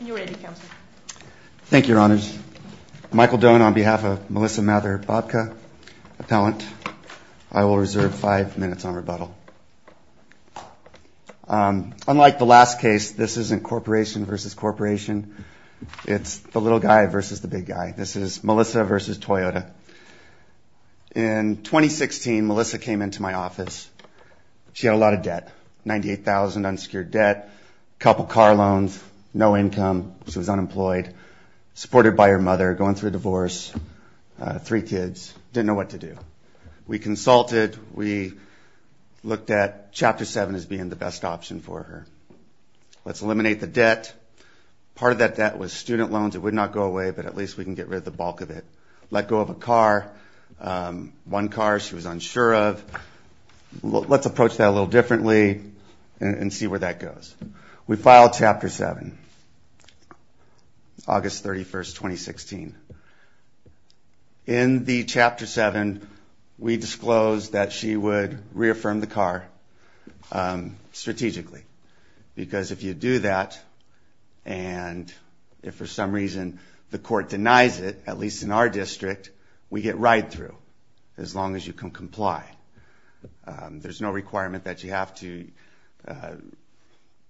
You're ready, Counselor. Thank you, Your Honors. Michael Doane on behalf of Melissa Mather Bobka, appellant. I will reserve five minutes on rebuttal. Unlike the last case, this isn't corporation versus corporation. It's the little guy versus the big guy. This is Melissa versus Toyota. In 2016, Melissa came into my office. She had a lot of debt, $98,000 unsecured debt, a couple car loans, no income. She was unemployed, supported by her mother, going through a divorce, three kids. Didn't know what to do. We consulted. We looked at Chapter 7 as being the best option for her. Let's eliminate the debt. Part of that debt was student loans. It would not go away, but at least we can get rid of the bulk of it. Let go of a car, one car she was unsure of. Let's approach that a little differently and see where that goes. We filed Chapter 7, August 31, 2016. In the Chapter 7, we disclosed that she would reaffirm the car strategically. Because if you do that, and if for some reason the court denies it, at least in our district, we get right through, as long as you can comply. There's no requirement that you have to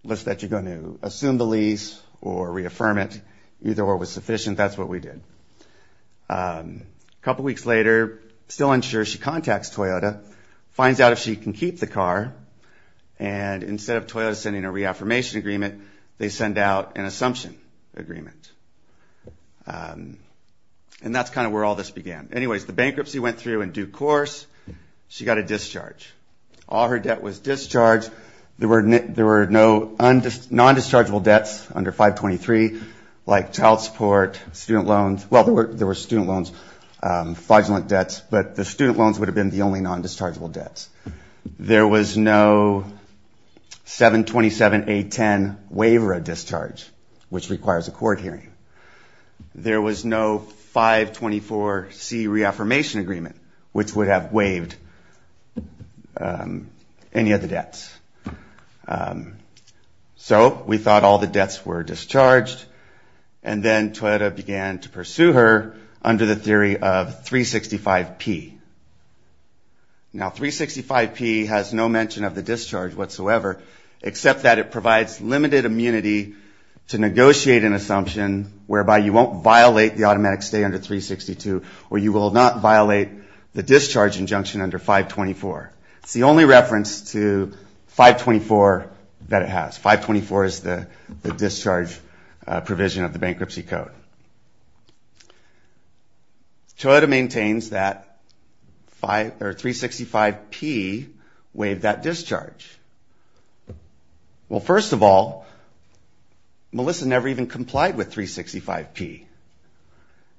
list that you're going to assume the lease or reaffirm it, either or was sufficient. That's what we did. A couple weeks later, still unsure, she contacts Toyota, finds out if she can keep the car, and instead of Toyota sending a reaffirmation agreement, they send out an assumption agreement. That's kind of where all this began. The bankruptcy went through in due course. She got a discharge. All her debt was discharged. There were no non-dischargeable debts under 523, like child support, student loans. Well, there were student loans, fraudulent debts, but the student loans would have been the only non-dischargeable debts. There was no 727A10 waiver of discharge, which requires a court hearing. There was no 524C reaffirmation agreement, which would have waived any of the debts. So we thought all the debts were discharged, and then Toyota began to pursue her under the theory of 365P. Now, 365P has no mention of the discharge whatsoever, except that it provides limited immunity to negotiate an assumption whereby you won't violate the automatic stay under 362, or you will not violate the discharge injunction under 524. It's the only reference to 524 that it has. 524 is the discharge provision of the bankruptcy code. Toyota maintains that 365P waived that discharge. Well, first of all, Melissa never even complied with 365P.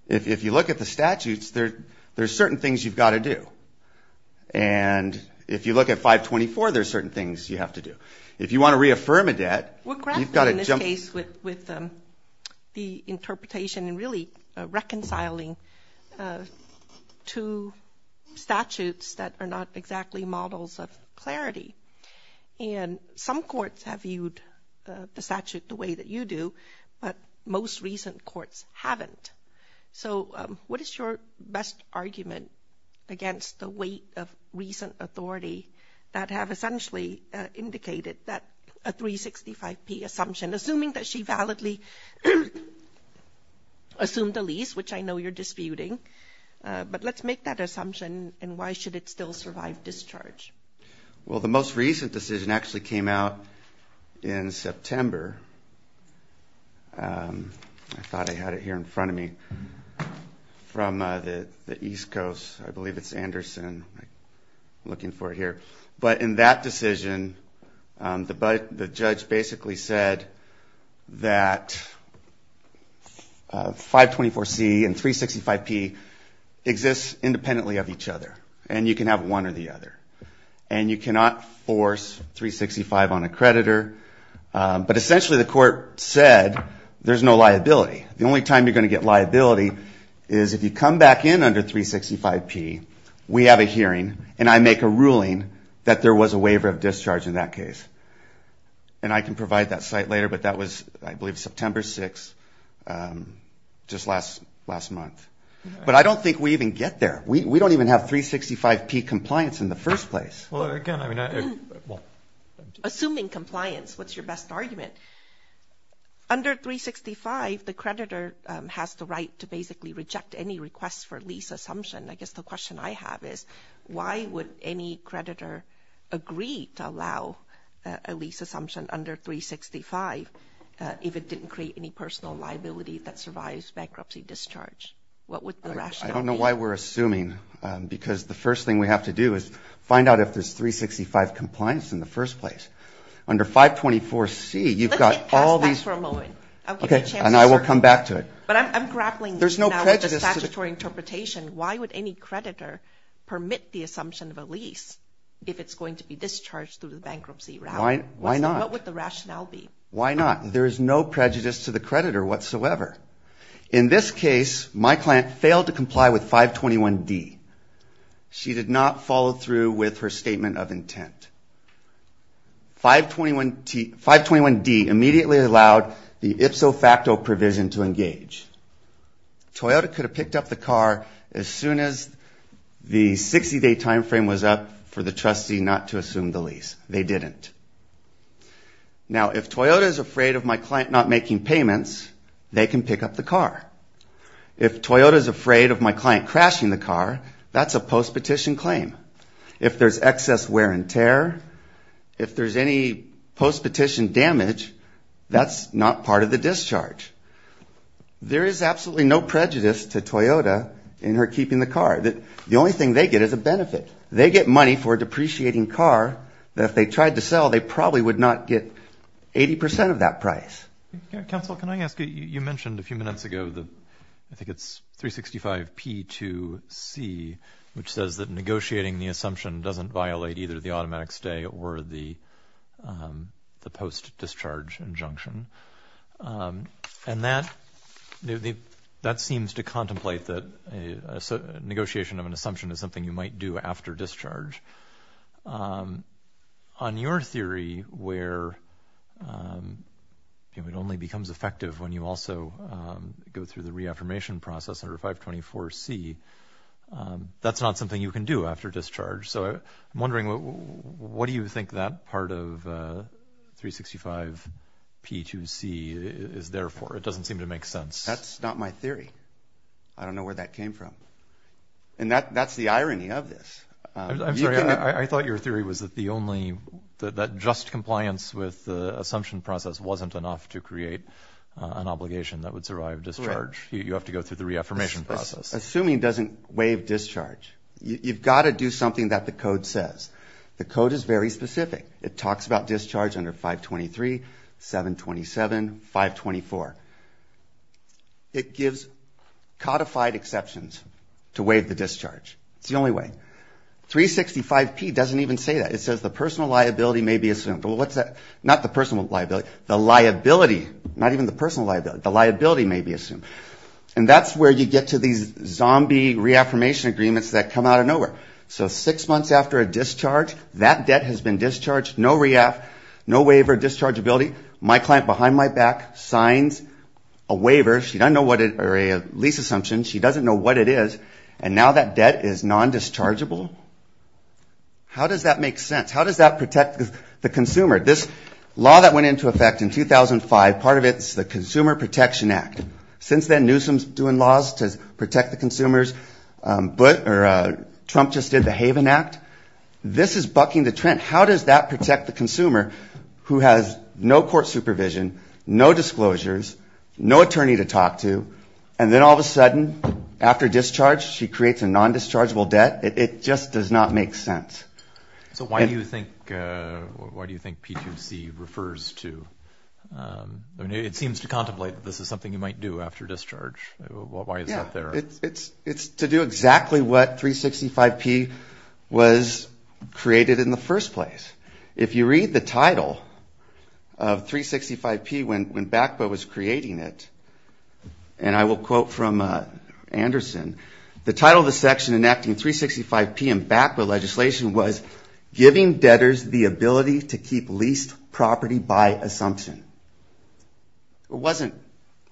If you look at the statutes, there are certain things you've got to do. And if you look at 524, there are certain things you have to do. If you want to reaffirm a debt, you've got to jump... We're grappling in this case with the interpretation and really reconciling two statutes that are not exactly models of clarity. And some courts have viewed the statute the way that you do, but most recent courts haven't. So what is your best argument against the weight of recent authority that have essentially indicated that a 365P assumption, assuming that she validly assumed the lease, which I know you're disputing. But let's make that assumption, and why should it still survive discharge? Well, the most recent decision actually came out in September. I thought I had it here in front of me. From the East Coast, I believe it's Anderson. I'm looking for it here. But in that decision, the judge basically said that 524C and 365P exist independently of each other, and you can have one or the other. And you cannot force 365 on a creditor. But essentially the court said there's no liability. The only time you're going to get liability is if you come back in under 365P, we have a hearing, and I make a ruling that there was a waiver of discharge in that case. And I can provide that site later, but that was, I believe, September 6, just last month. But I don't think we even get there. We don't even have 365P compliance in the first place. Assuming compliance, what's your best argument? Under 365, the creditor has the right to basically reject any request for lease assumption. I guess the question I have is why would any creditor agree to allow a lease assumption under 365 if it didn't create any personal liability that survives bankruptcy discharge? What would the rationale be? I don't know why we're assuming, because the first thing we have to do is find out if there's 365 compliance in the first place. Under 524C, you've got all these... Let's get past that for a moment. I'll give you a chance to... Okay, and I will come back to it. But I'm grappling now with the statutory interpretation. Why would any creditor permit the assumption of a lease if it's going to be discharged through the bankruptcy route? What would the rationale be? In this case, my client failed to comply with 521D. She did not follow through with her statement of intent. 521D immediately allowed the ipso facto provision to engage. Toyota could have picked up the car as soon as the 60-day time frame was up for the trustee not to assume the lease. They didn't. Now, if Toyota is afraid of my client not making payments, they can pick up the car. If Toyota is afraid of my client crashing the car, that's a post-petition claim. If there's excess wear and tear, if there's any post-petition damage, that's not part of the discharge. There is absolutely no prejudice to Toyota in her keeping the car. The only thing they get is a benefit. They get money for a depreciating car that if they tried to sell, they probably would not get 80% of that price. Counsel, can I ask you, you mentioned a few minutes ago, I think it's 365P2C, which says that negotiating the assumption doesn't violate either the automatic stay or the post-discharge injunction. That seems to contemplate that negotiation of an assumption is something you might do after discharge. On your theory where it only becomes effective when you also go through the reaffirmation process under 524C, that's not something you can do after discharge. So I'm wondering, what do you think that part of 365P2C is there for? It doesn't seem to make sense. That's not my theory. I don't know where that came from. And that's the irony of this. I'm sorry, I thought your theory was that just compliance with the assumption process wasn't enough to create an obligation that would survive discharge. You have to go through the reaffirmation process. Assuming doesn't waive discharge. You've got to do something that the code says. The code is very specific. It talks about discharge under 523, 727, 524. It gives codified exceptions to waive the discharge. It's the only way. 365P doesn't even say that. It says the personal liability may be assumed. Not the personal liability, the liability, not even the personal liability, the liability may be assumed. And that's where you get to these zombie reaffirmation agreements that come out of nowhere. So six months after a discharge, that debt has been discharged, no reaff, no waiver, dischargeability, my client behind my back signs a waiver, she doesn't know what it is, or a lease assumption, she doesn't know what it is, and now that debt is non-dischargeable? How does that make sense? How does that protect the consumer? This law that went into effect in 2005, part of it is the Consumer Protection Act. Since then, Newsom's doing laws to protect the consumers. Trump just did the Haven Act. This is bucking the trend. How does that protect the consumer who has no court supervision, no disclosures, no attorney to talk to, and then all of a sudden, after discharge, she creates a non-dischargeable debt? It just does not make sense. So why do you think P2C refers to... It seems to contemplate that this is something you might do after discharge. Why is that there? It's to do exactly what 365P was created in the first place. If you read the title of 365P when BACPA was creating it, and I will quote from Anderson, the title of the section enacting 365P and BACPA legislation was giving debtors the ability to keep leased property by assumption. It wasn't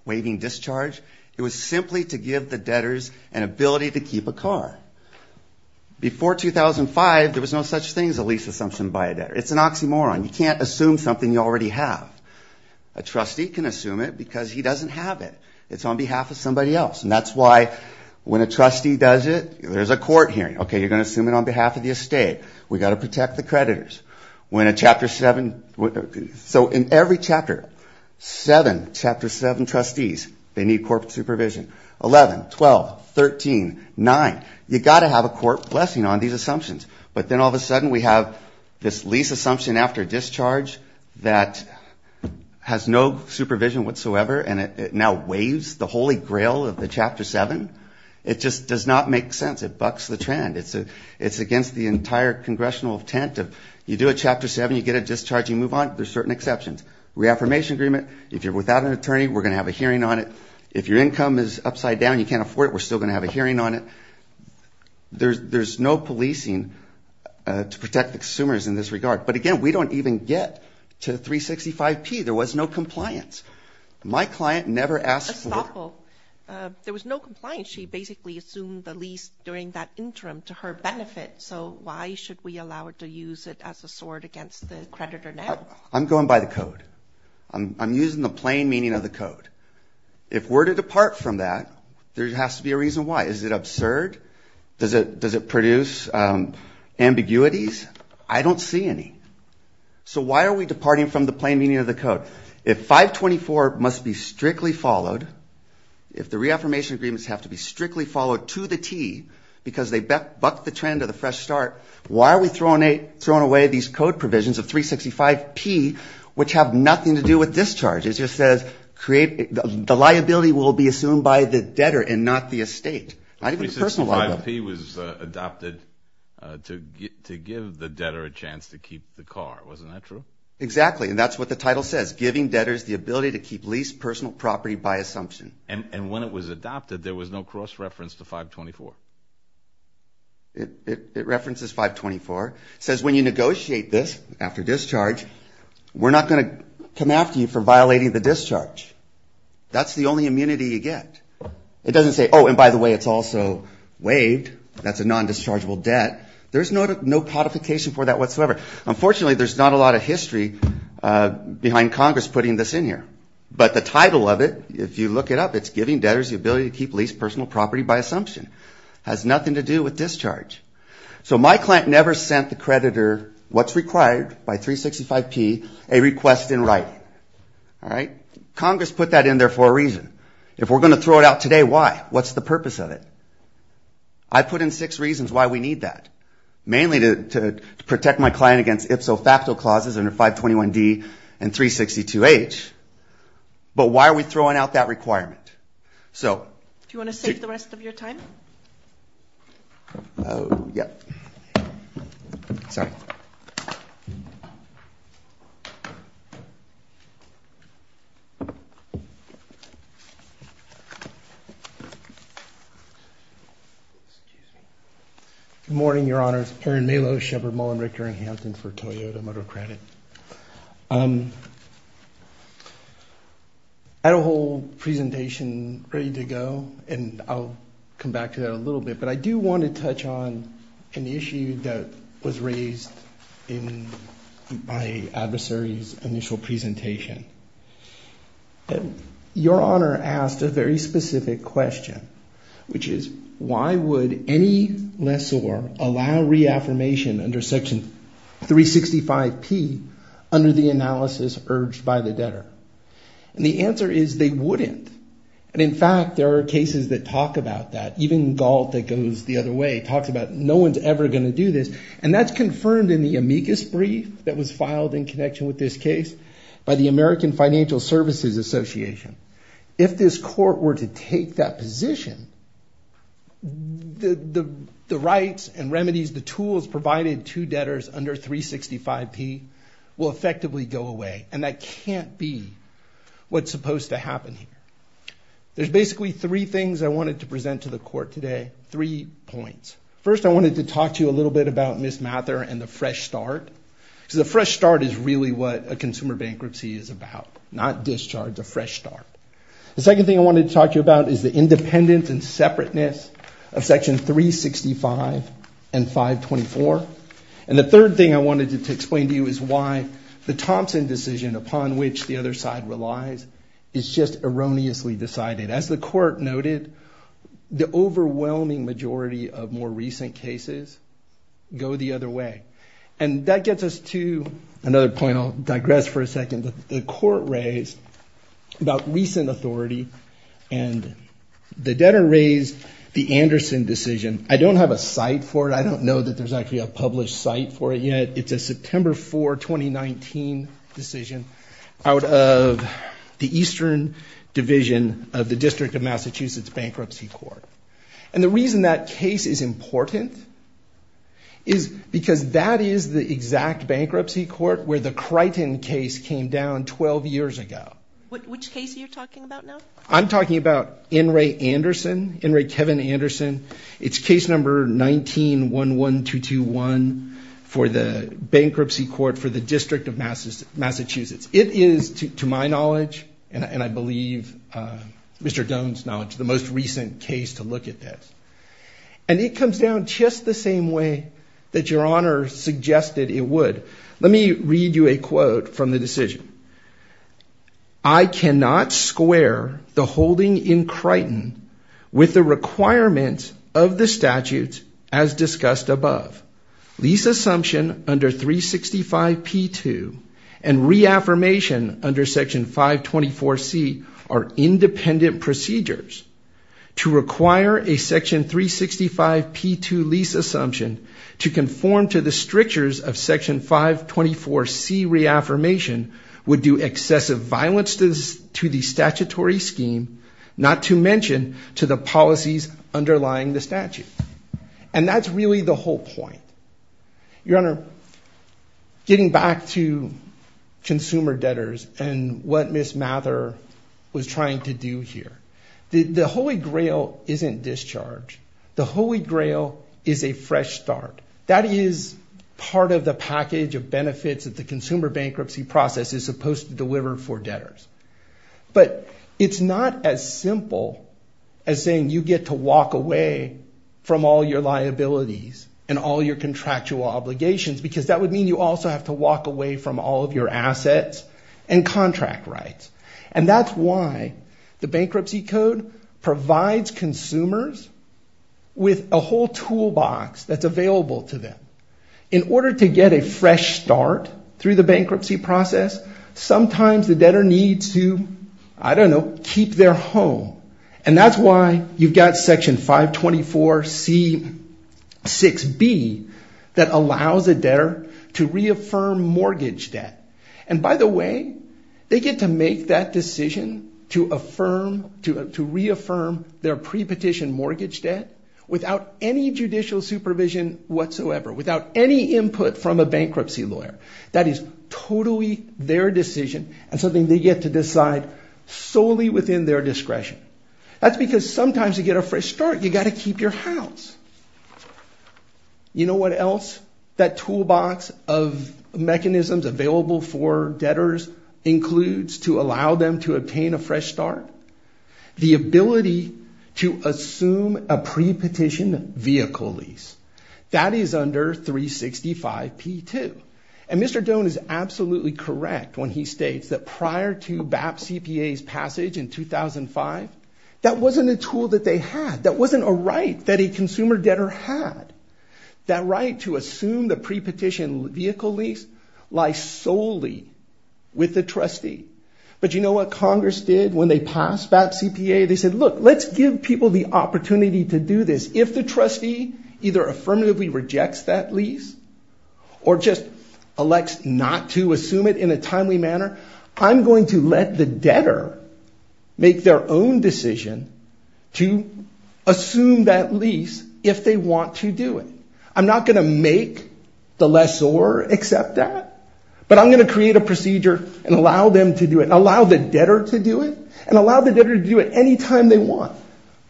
waiving discharge. It was simply to give the debtors an ability to keep a car. Before 2005, there was no such thing as a lease assumption by a debtor. It's an oxymoron. You can't assume something you already have. A trustee can assume it because he doesn't have it. It's on behalf of somebody else. And that's why when a trustee does it, there's a court hearing. Okay, you're going to assume it on behalf of the estate. We've got to protect the creditors. So in every chapter, seven trustees, they need court supervision. 11, 12, 13, 9. You've got to have a court blessing on these assumptions. But then all of a sudden we have this lease assumption after discharge that has no supervision whatsoever, and it now waives the holy grail of the Chapter 7. It just does not make sense. It bucks the trend. It's against the entire congressional intent. You do a Chapter 7, you get a discharge, you move on. There's certain exceptions. Reaffirmation agreement. If you're without an attorney, we're going to have a hearing on it. If your income is upside down, you can't afford it, we're still going to have a hearing on it. There's no policing to protect the consumers in this regard. But again, we don't even get to 365P. There was no compliance. There was no compliance. She basically assumed the lease during that interim to her benefit. So why should we allow her to use it as a sword against the creditor now? I'm going by the code. I'm using the plain meaning of the code. If we're to depart from that, there has to be a reason why. Is it absurd? Does it produce ambiguities? I don't see any. So why are we departing from the plain meaning of the code? If 524 must be strictly followed, if the reaffirmation agreements have to be strictly followed to the T, because they bucked the trend of the fresh start, why are we throwing away these code provisions of 365P which have nothing to do with discharges? It just says the liability will be assumed by the debtor and not the estate. 365P was adopted to give the debtor a chance to keep the car. Wasn't that true? Exactly. And that's what the title says. And when it was adopted, there was no cross-reference to 524? It references 524. It says when you negotiate this after discharge, we're not going to come after you for violating the discharge. That's the only immunity you get. It doesn't say, oh, and by the way, it's also waived. That's a non-dischargeable debt. There's no codification for that whatsoever. Unfortunately, there's not a lot of history behind Congress putting this in here. But the title of it, if you look it up, it's giving debtors the ability to keep lease personal property by assumption. Has nothing to do with discharge. So my client never sent the creditor what's required by 365P, a request in writing. Congress put that in there for a reason. If we're going to throw it out today, why? What's the purpose of it? I put in six reasons why we need that. Mainly to protect my client against ipso facto clauses under 521D and 362H. But why are we throwing out that requirement? Do you want to save the rest of your time? Good morning, Your Honor. It's Perrin Malow, Shepard, Mullen, Richter, and Hampton for Toyota Motor Credit. I had a whole presentation ready to go, and I'll come back to that a little bit. But I do want to touch on an issue that was raised in my adversary's initial presentation. Your Honor asked a very specific question, which is, why would any lessor allow reaffirmation under section 365P under the analysis urged by the debtor? And the answer is they wouldn't. And in fact, there are cases that talk about that. Even Galt, that goes the other way, talks about no one's ever going to do this. And that's confirmed in the amicus brief that was filed in connection with this case by the American Financial Services Association. If this court were to take that position, the rights and remedies, the tools provided to debtors under 365P will effectively go away. And that can't be what's supposed to happen here. There's basically three things I wanted to present to the court today, three points. First, I wanted to talk to you a little bit about Ms. Mather and the fresh start. Because a fresh start is really what a consumer bankruptcy is about, not discharge, a fresh start. The second thing I wanted to talk to you about is the independence and separateness of section 365 and 524. And the third thing I wanted to explain to you is why the Thompson decision upon which the other side relies is just erroneously decided. As the court noted, the overwhelming majority of more recent cases go the other way. And that gets us to another point. I'll digress for a second. The court raised about recent authority and the debtor raised the Anderson decision. I don't have a site for it. I don't know that there's actually a published site for it yet. It's a September 4, 2019 decision out of the Eastern Division of the District of Massachusetts Bankruptcy Court. And the reason that case is important is because that is the exact bankruptcy court where the Crichton case came down 12 years ago. I'm talking about N. Ray Anderson, N. Ray Kevin Anderson. It's case number 19-11221 for the bankruptcy court for the District of Massachusetts. It is, to my knowledge, and I believe Mr. Doan's knowledge, the most recent case to look at this. And it comes down just the same way that Your Honor suggested it would. Let me read you a quote from the decision. I cannot square the holding in Crichton with the requirements of the statutes as discussed above. Lease assumption under 365P2 and reaffirmation under Section 524C are independent procedures. To require a Section 365P2 lease assumption to conform to the strictures of Section 524C reaffirmation would do excessive violence to the statutory scheme, not to mention to the policies underlying the statute. And that's really the whole point. Your Honor, getting back to consumer debtors and what Ms. Mather was trying to do here. The Holy Grail isn't discharge. The Holy Grail is a fresh start. That is part of the package of benefits that the consumer bankruptcy process is supposed to deliver for debtors. But it's not as simple as saying you get to walk away from all your liabilities and all your contractual obligations because that would mean you also have to walk away from all of your assets and contract rights. And that's why the bankruptcy code provides consumers with a whole toolbox that's available to them. In order to get a fresh start through the bankruptcy process, sometimes the debtor needs to, I don't know, keep their home. And that's why you've got Section 524C6B that allows a debtor to reaffirm mortgage debt. And by the way, they get to make that decision to reaffirm their pre-petition mortgage debt without any judicial supervision whatsoever, without any input from a bankruptcy lawyer. That is totally their decision and something they get to decide solely within their discretion. That's because sometimes to get a fresh start, you've got to keep your house. You know what else that toolbox of mechanisms available for debtors includes to allow them to obtain a fresh start? The ability to assume a pre-petition vehicle lease. That is under 365P2. And Mr. Doan is absolutely correct when he states that prior to BAP CPA's passage in 2005, that wasn't a tool that they had, that wasn't a right that a consumer debtor had. That right to assume the pre-petition vehicle lease lies solely with the trustee. But you know what Congress did when they passed BAP CPA? They said, look, let's give people the opportunity to do this if the trustee either affirmatively rejects that lease or just elects not to assume it in a timely manner, I'm going to let the debtor make their own decision to assume that lease if they want to do it. I'm not going to make the lessor accept that, but I'm going to create a procedure and allow them to do it and allow the debtor to do it and allow the debtor to do it any time they want,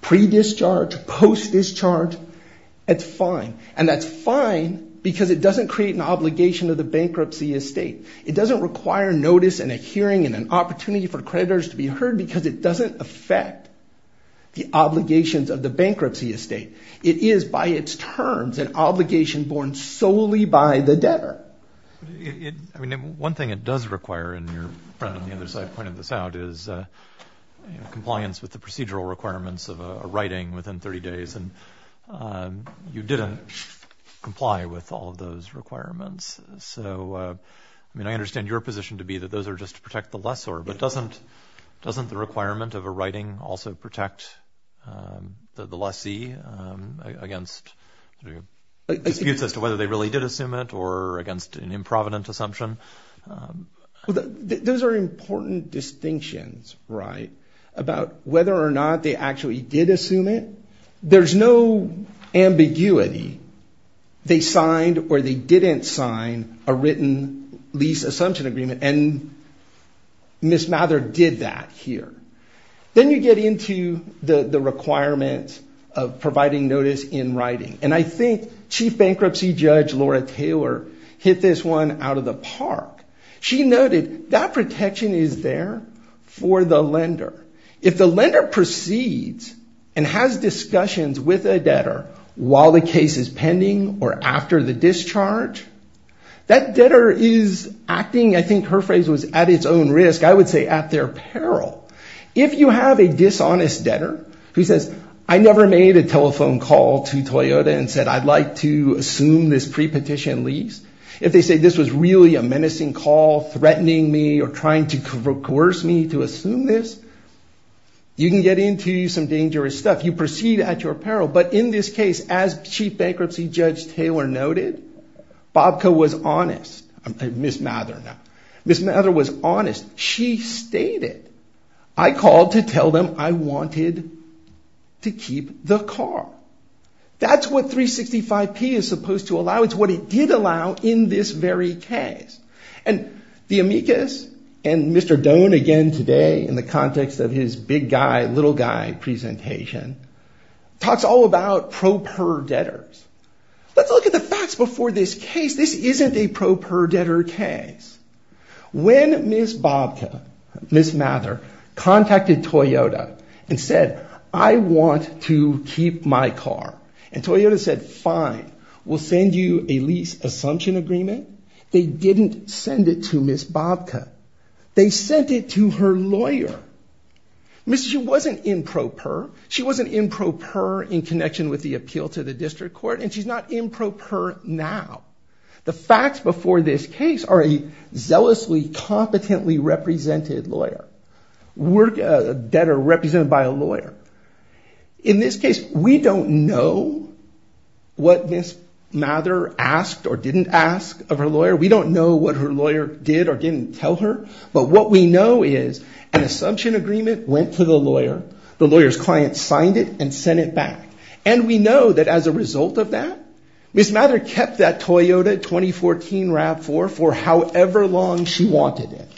pre-discharge, post-discharge, it's fine. And that's fine because it doesn't create an obligation of the bankruptcy estate. It doesn't require notice and a hearing and an opportunity for creditors to be heard because it doesn't affect the obligations of the bankruptcy estate. It is by its terms an obligation borne solely by the debtor. One thing it does require, and your friend on the other side pointed this out, is compliance with the procedural requirements of a writing within 30 days, and you didn't comply with all of those requirements. I understand your position to be that those are just to protect the lessor, but doesn't the requirement of a writing also protect the lessee against disputes as to whether they really did assume it or against an improvident assumption? Those are important distinctions, right, about whether or not they actually did assume it. There's no ambiguity. They signed or they didn't sign a written lease assumption agreement, and Ms. Mather did that here. Then you get into the requirements of providing notice in writing, and I think Chief Bankruptcy Judge Laura Taylor hit this one out of the park. If the lender proceeds and has discussions with a debtor while the case is pending or after the discharge, that debtor is acting, I think her phrase was at its own risk, I would say at their peril. If you have a dishonest debtor who says, I never made a telephone call to Toyota and said I'd like to assume this pre-petition lease. If they say this was really a menacing call threatening me or trying to coerce me to assume this, you can get into some dangerous stuff. You proceed at your peril, but in this case, as Chief Bankruptcy Judge Taylor noted, Bobco was honest. Ms. Mather was honest. She stated, I called to tell them I wanted to keep the car. Now it's what it did allow in this very case. The amicus and Mr. Doan again today in the context of his big guy, little guy presentation, talks all about pro-per debtors. Let's look at the facts before this case. This isn't a pro-per debtor case. When Ms. Bobco, Ms. Mather contacted Toyota and said, I want to keep my car, they didn't send it to Ms. Bobco. They sent it to her lawyer. She wasn't in pro-per in connection with the appeal to the district court, and she's not in pro-per now. The facts before this case are a zealously competently represented lawyer. Debtor represented by a lawyer. In this case, we don't know what Ms. Mather asked or didn't ask of her lawyer. We don't know what her lawyer did or didn't tell her, but what we know is an assumption agreement went to the lawyer. The lawyer's client signed it and sent it back, and we know that as a result of that, Ms. Mather kept that Toyota 2014 RAV4 for however long she wanted it.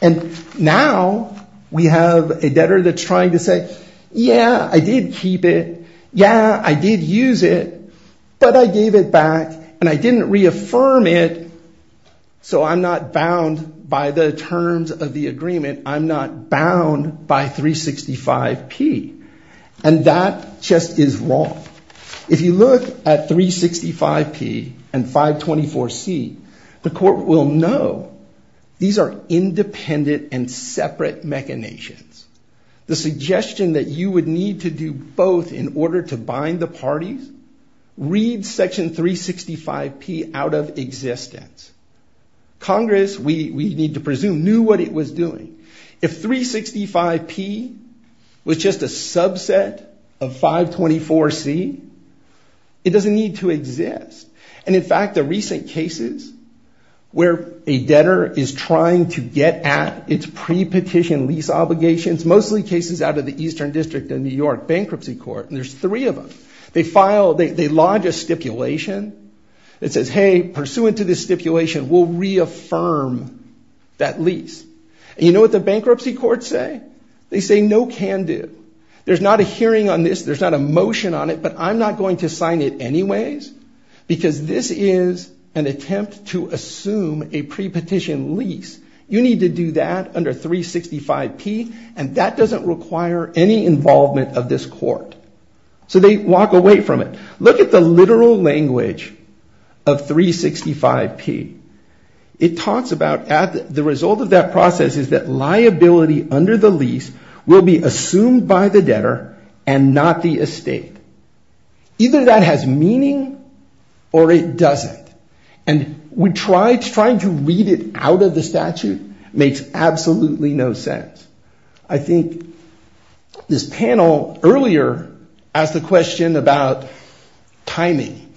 And now we have a debtor that's trying to say, yeah, I did keep it. Yeah, I did use it, but I gave it back, and I didn't reaffirm it, so I'm not bound by the terms of the agreement. I'm not bound by 365P. And that just is wrong. If you look at 365P and 524C, the court will know these are independent and separate machinations. The suggestion that you would need to do both in order to bind the parties reads Section 365P out of existence. Congress, we need to presume, knew what it was doing. If 365P was just a subset of 524C, it doesn't need to exist. And in fact, the recent cases where a debtor is trying to get at its pre-petition lease obligations, mostly cases out of the Eastern District of New York Bankruptcy Court, and there's three of them. They file, they lodge a stipulation that says, hey, pursuant to this stipulation, we'll reaffirm that lease. And you know what the bankruptcy courts say? They say no can do. There's not a hearing on this, there's not a motion on it, but I'm not going to sign it anyways, because this is an attempt to assume a pre-petition lease. You need to do that under 365P, and that doesn't require any involvement of this court. So they walk away from it. Look at the literal language of 365P. It talks about the result of that process is that liability under the lease will be assumed by the debtor and not the estate. Either that has meaning or it doesn't. And trying to read it out of the statute makes absolutely no sense. I think this panel earlier asked the question about timing.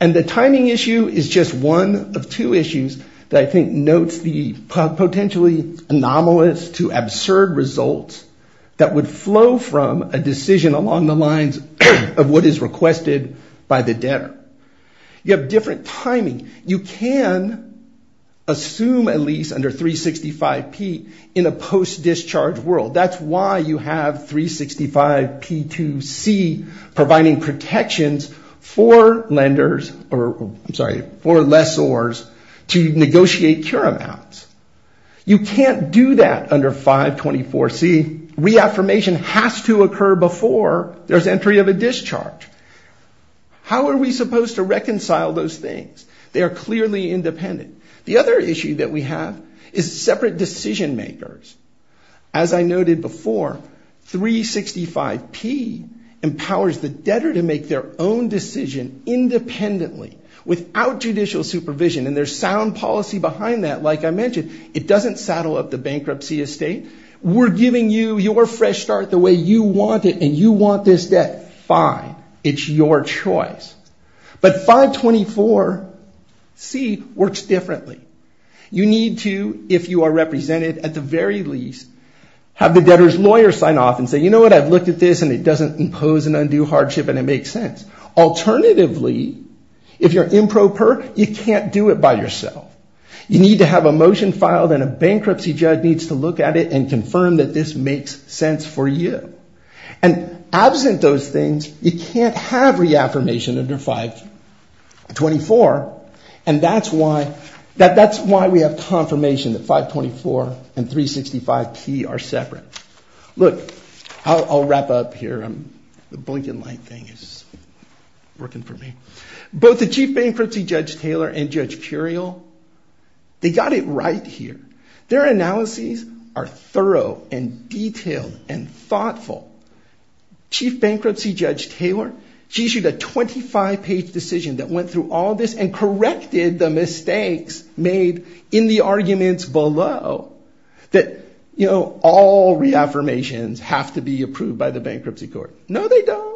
And the timing issue is just one of two issues that I think notes the potentially anomalous to absurd results that would flow from a decision along the lines of what is requested by the debtor. You have different timing. You can assume a lease under 365P in a post-discharge world. That's why you have 365P2C providing protections for lessors to negotiate cure amounts. You can't do that under 524C. Reaffirmation has to occur before there's entry of a discharge. They are clearly independent. The other issue that we have is separate decision makers. As I noted before, 365P empowers the debtor to make their own decision independently without judicial supervision. And there's sound policy behind that, like I mentioned. It doesn't saddle up the bankruptcy estate. We're giving you your fresh start the way you want it and you want this debt. Fine. It's your choice. But 524C works differently. You need to, if you are represented at the very least, have the debtor's lawyer sign off and say, you know what, I've looked at this and it doesn't impose an undue hardship and it makes sense. Alternatively, if you're improper, you can't do it by yourself. You need to have a motion filed and a bankruptcy judge needs to look at it and confirm that this makes sense for you. And absent those things, you can't have reaffirmation under 524. And that's why we have confirmation that 524 and 365P are separate. Look, I'll wrap up here. The blinking light thing is working for me. Both the Chief Bankruptcy Judge Taylor and Judge Curiel, they got it right here. Their analyses are thorough and detailed and thoughtful. Chief Bankruptcy Judge Taylor, she issued a 25-page decision that went through all this and corrected the mistakes made in the arguments below. That, you know, all reaffirmations have to be approved by the bankruptcy court. No, they don't.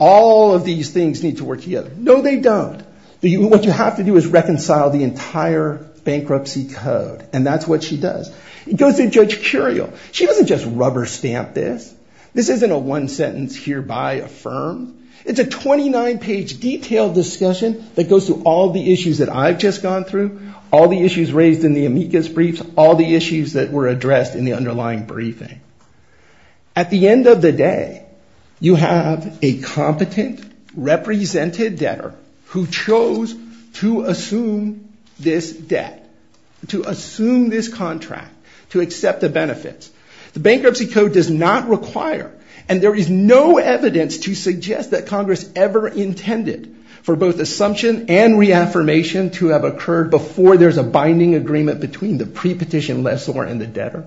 All of these things need to work together. No, they don't. What you have to do is reconcile the entire bankruptcy code and that's what she does. It goes to Judge Curiel. She doesn't just rubber stamp this. This isn't a one sentence hereby affirmed. It's a 29-page detailed discussion that goes through all the issues that I've just gone through, all the issues raised in the amicus briefs, all the issues that were addressed in the underlying briefing. At the end of the day, you have a competent, represented debtor who chose to assume this debt, to assume this contract, to accept the benefits. The bankruptcy code does not require, and there is no evidence to suggest that Congress ever intended, for both assumption and reaffirmation to have occurred before there's a binding agreement between the pre-petition lessor and the debtor.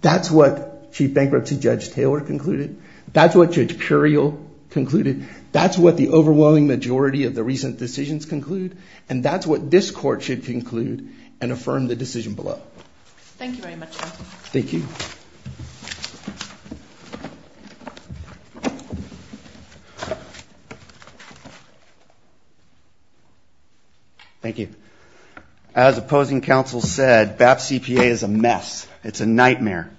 That's what Chief Bankruptcy Judge Taylor concluded. That's what Judge Curiel concluded. That's what the overwhelming majority of the recent decisions conclude. And that's what this court should conclude and affirm the decision below. As opposing counsel said, BAP CPA is a mess. It's a nightmare.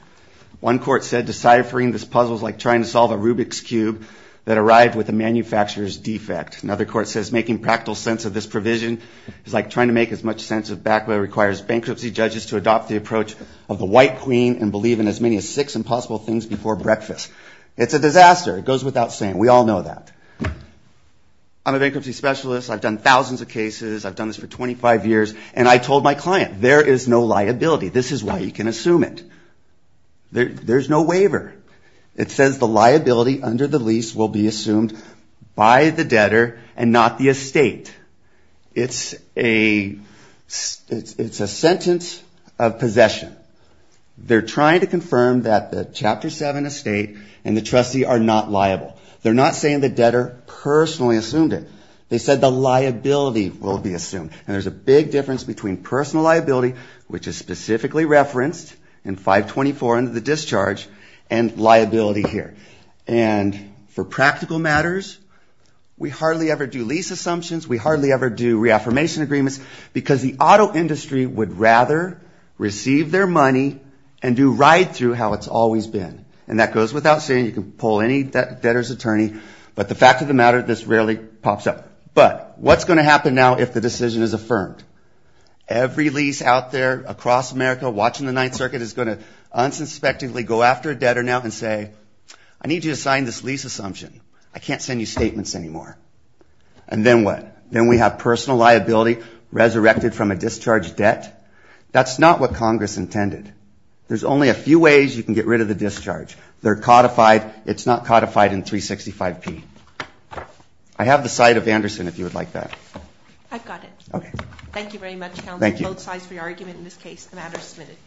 One court said deciphering this puzzle is like trying to solve a Rubik's cube that arrived with a manufacturer's defect. Another court says making practical sense of this provision is like trying to make as much sense as BAP requires bankruptcy judges to adopt the approach of the White Queen and believe in as many as six impossible things before breakfast. It's a disaster. It goes without saying. We all know that. I'm a bankruptcy specialist. I've done thousands of cases. I've done this for 25 years. And I told my client, there is no liability. This is why you can assume it. There's no waiver. It says the liability under the lease will be assumed by the debtor and not the estate. It's a sentence of possession. They're trying to confirm that the Chapter 7 estate and the trustee are not liable. They're not saying the debtor personally assumed it. They said the liability will be assumed. And there's a big difference between personal liability, which is specifically referenced in 524 under the discharge, and liability here. And for practical matters, we hardly ever do lease assumptions, we hardly ever do reaffirmation agreements, because the auto industry would rather receive their money and do right through how it's always been. And that goes without saying. You can poll any debtor's attorney. But the fact of the matter, this rarely pops up. But what's going to happen now if the decision is affirmed? Every lease out there across America watching the Ninth Circuit is going to unsuspectingly go after a debtor now and say, I need you to sign this lease assumption. I can't send you statements anymore. And then what? Then we have personal liability resurrected from a discharge debt? That's not what Congress intended. There's only a few ways you can get rid of the discharge. They're codified. It's not codified in 365P. I have the side of Anderson, if you would like that. I've got it. Thank you very much, counsel. Both sides for your argument in this case. The matter is submitted.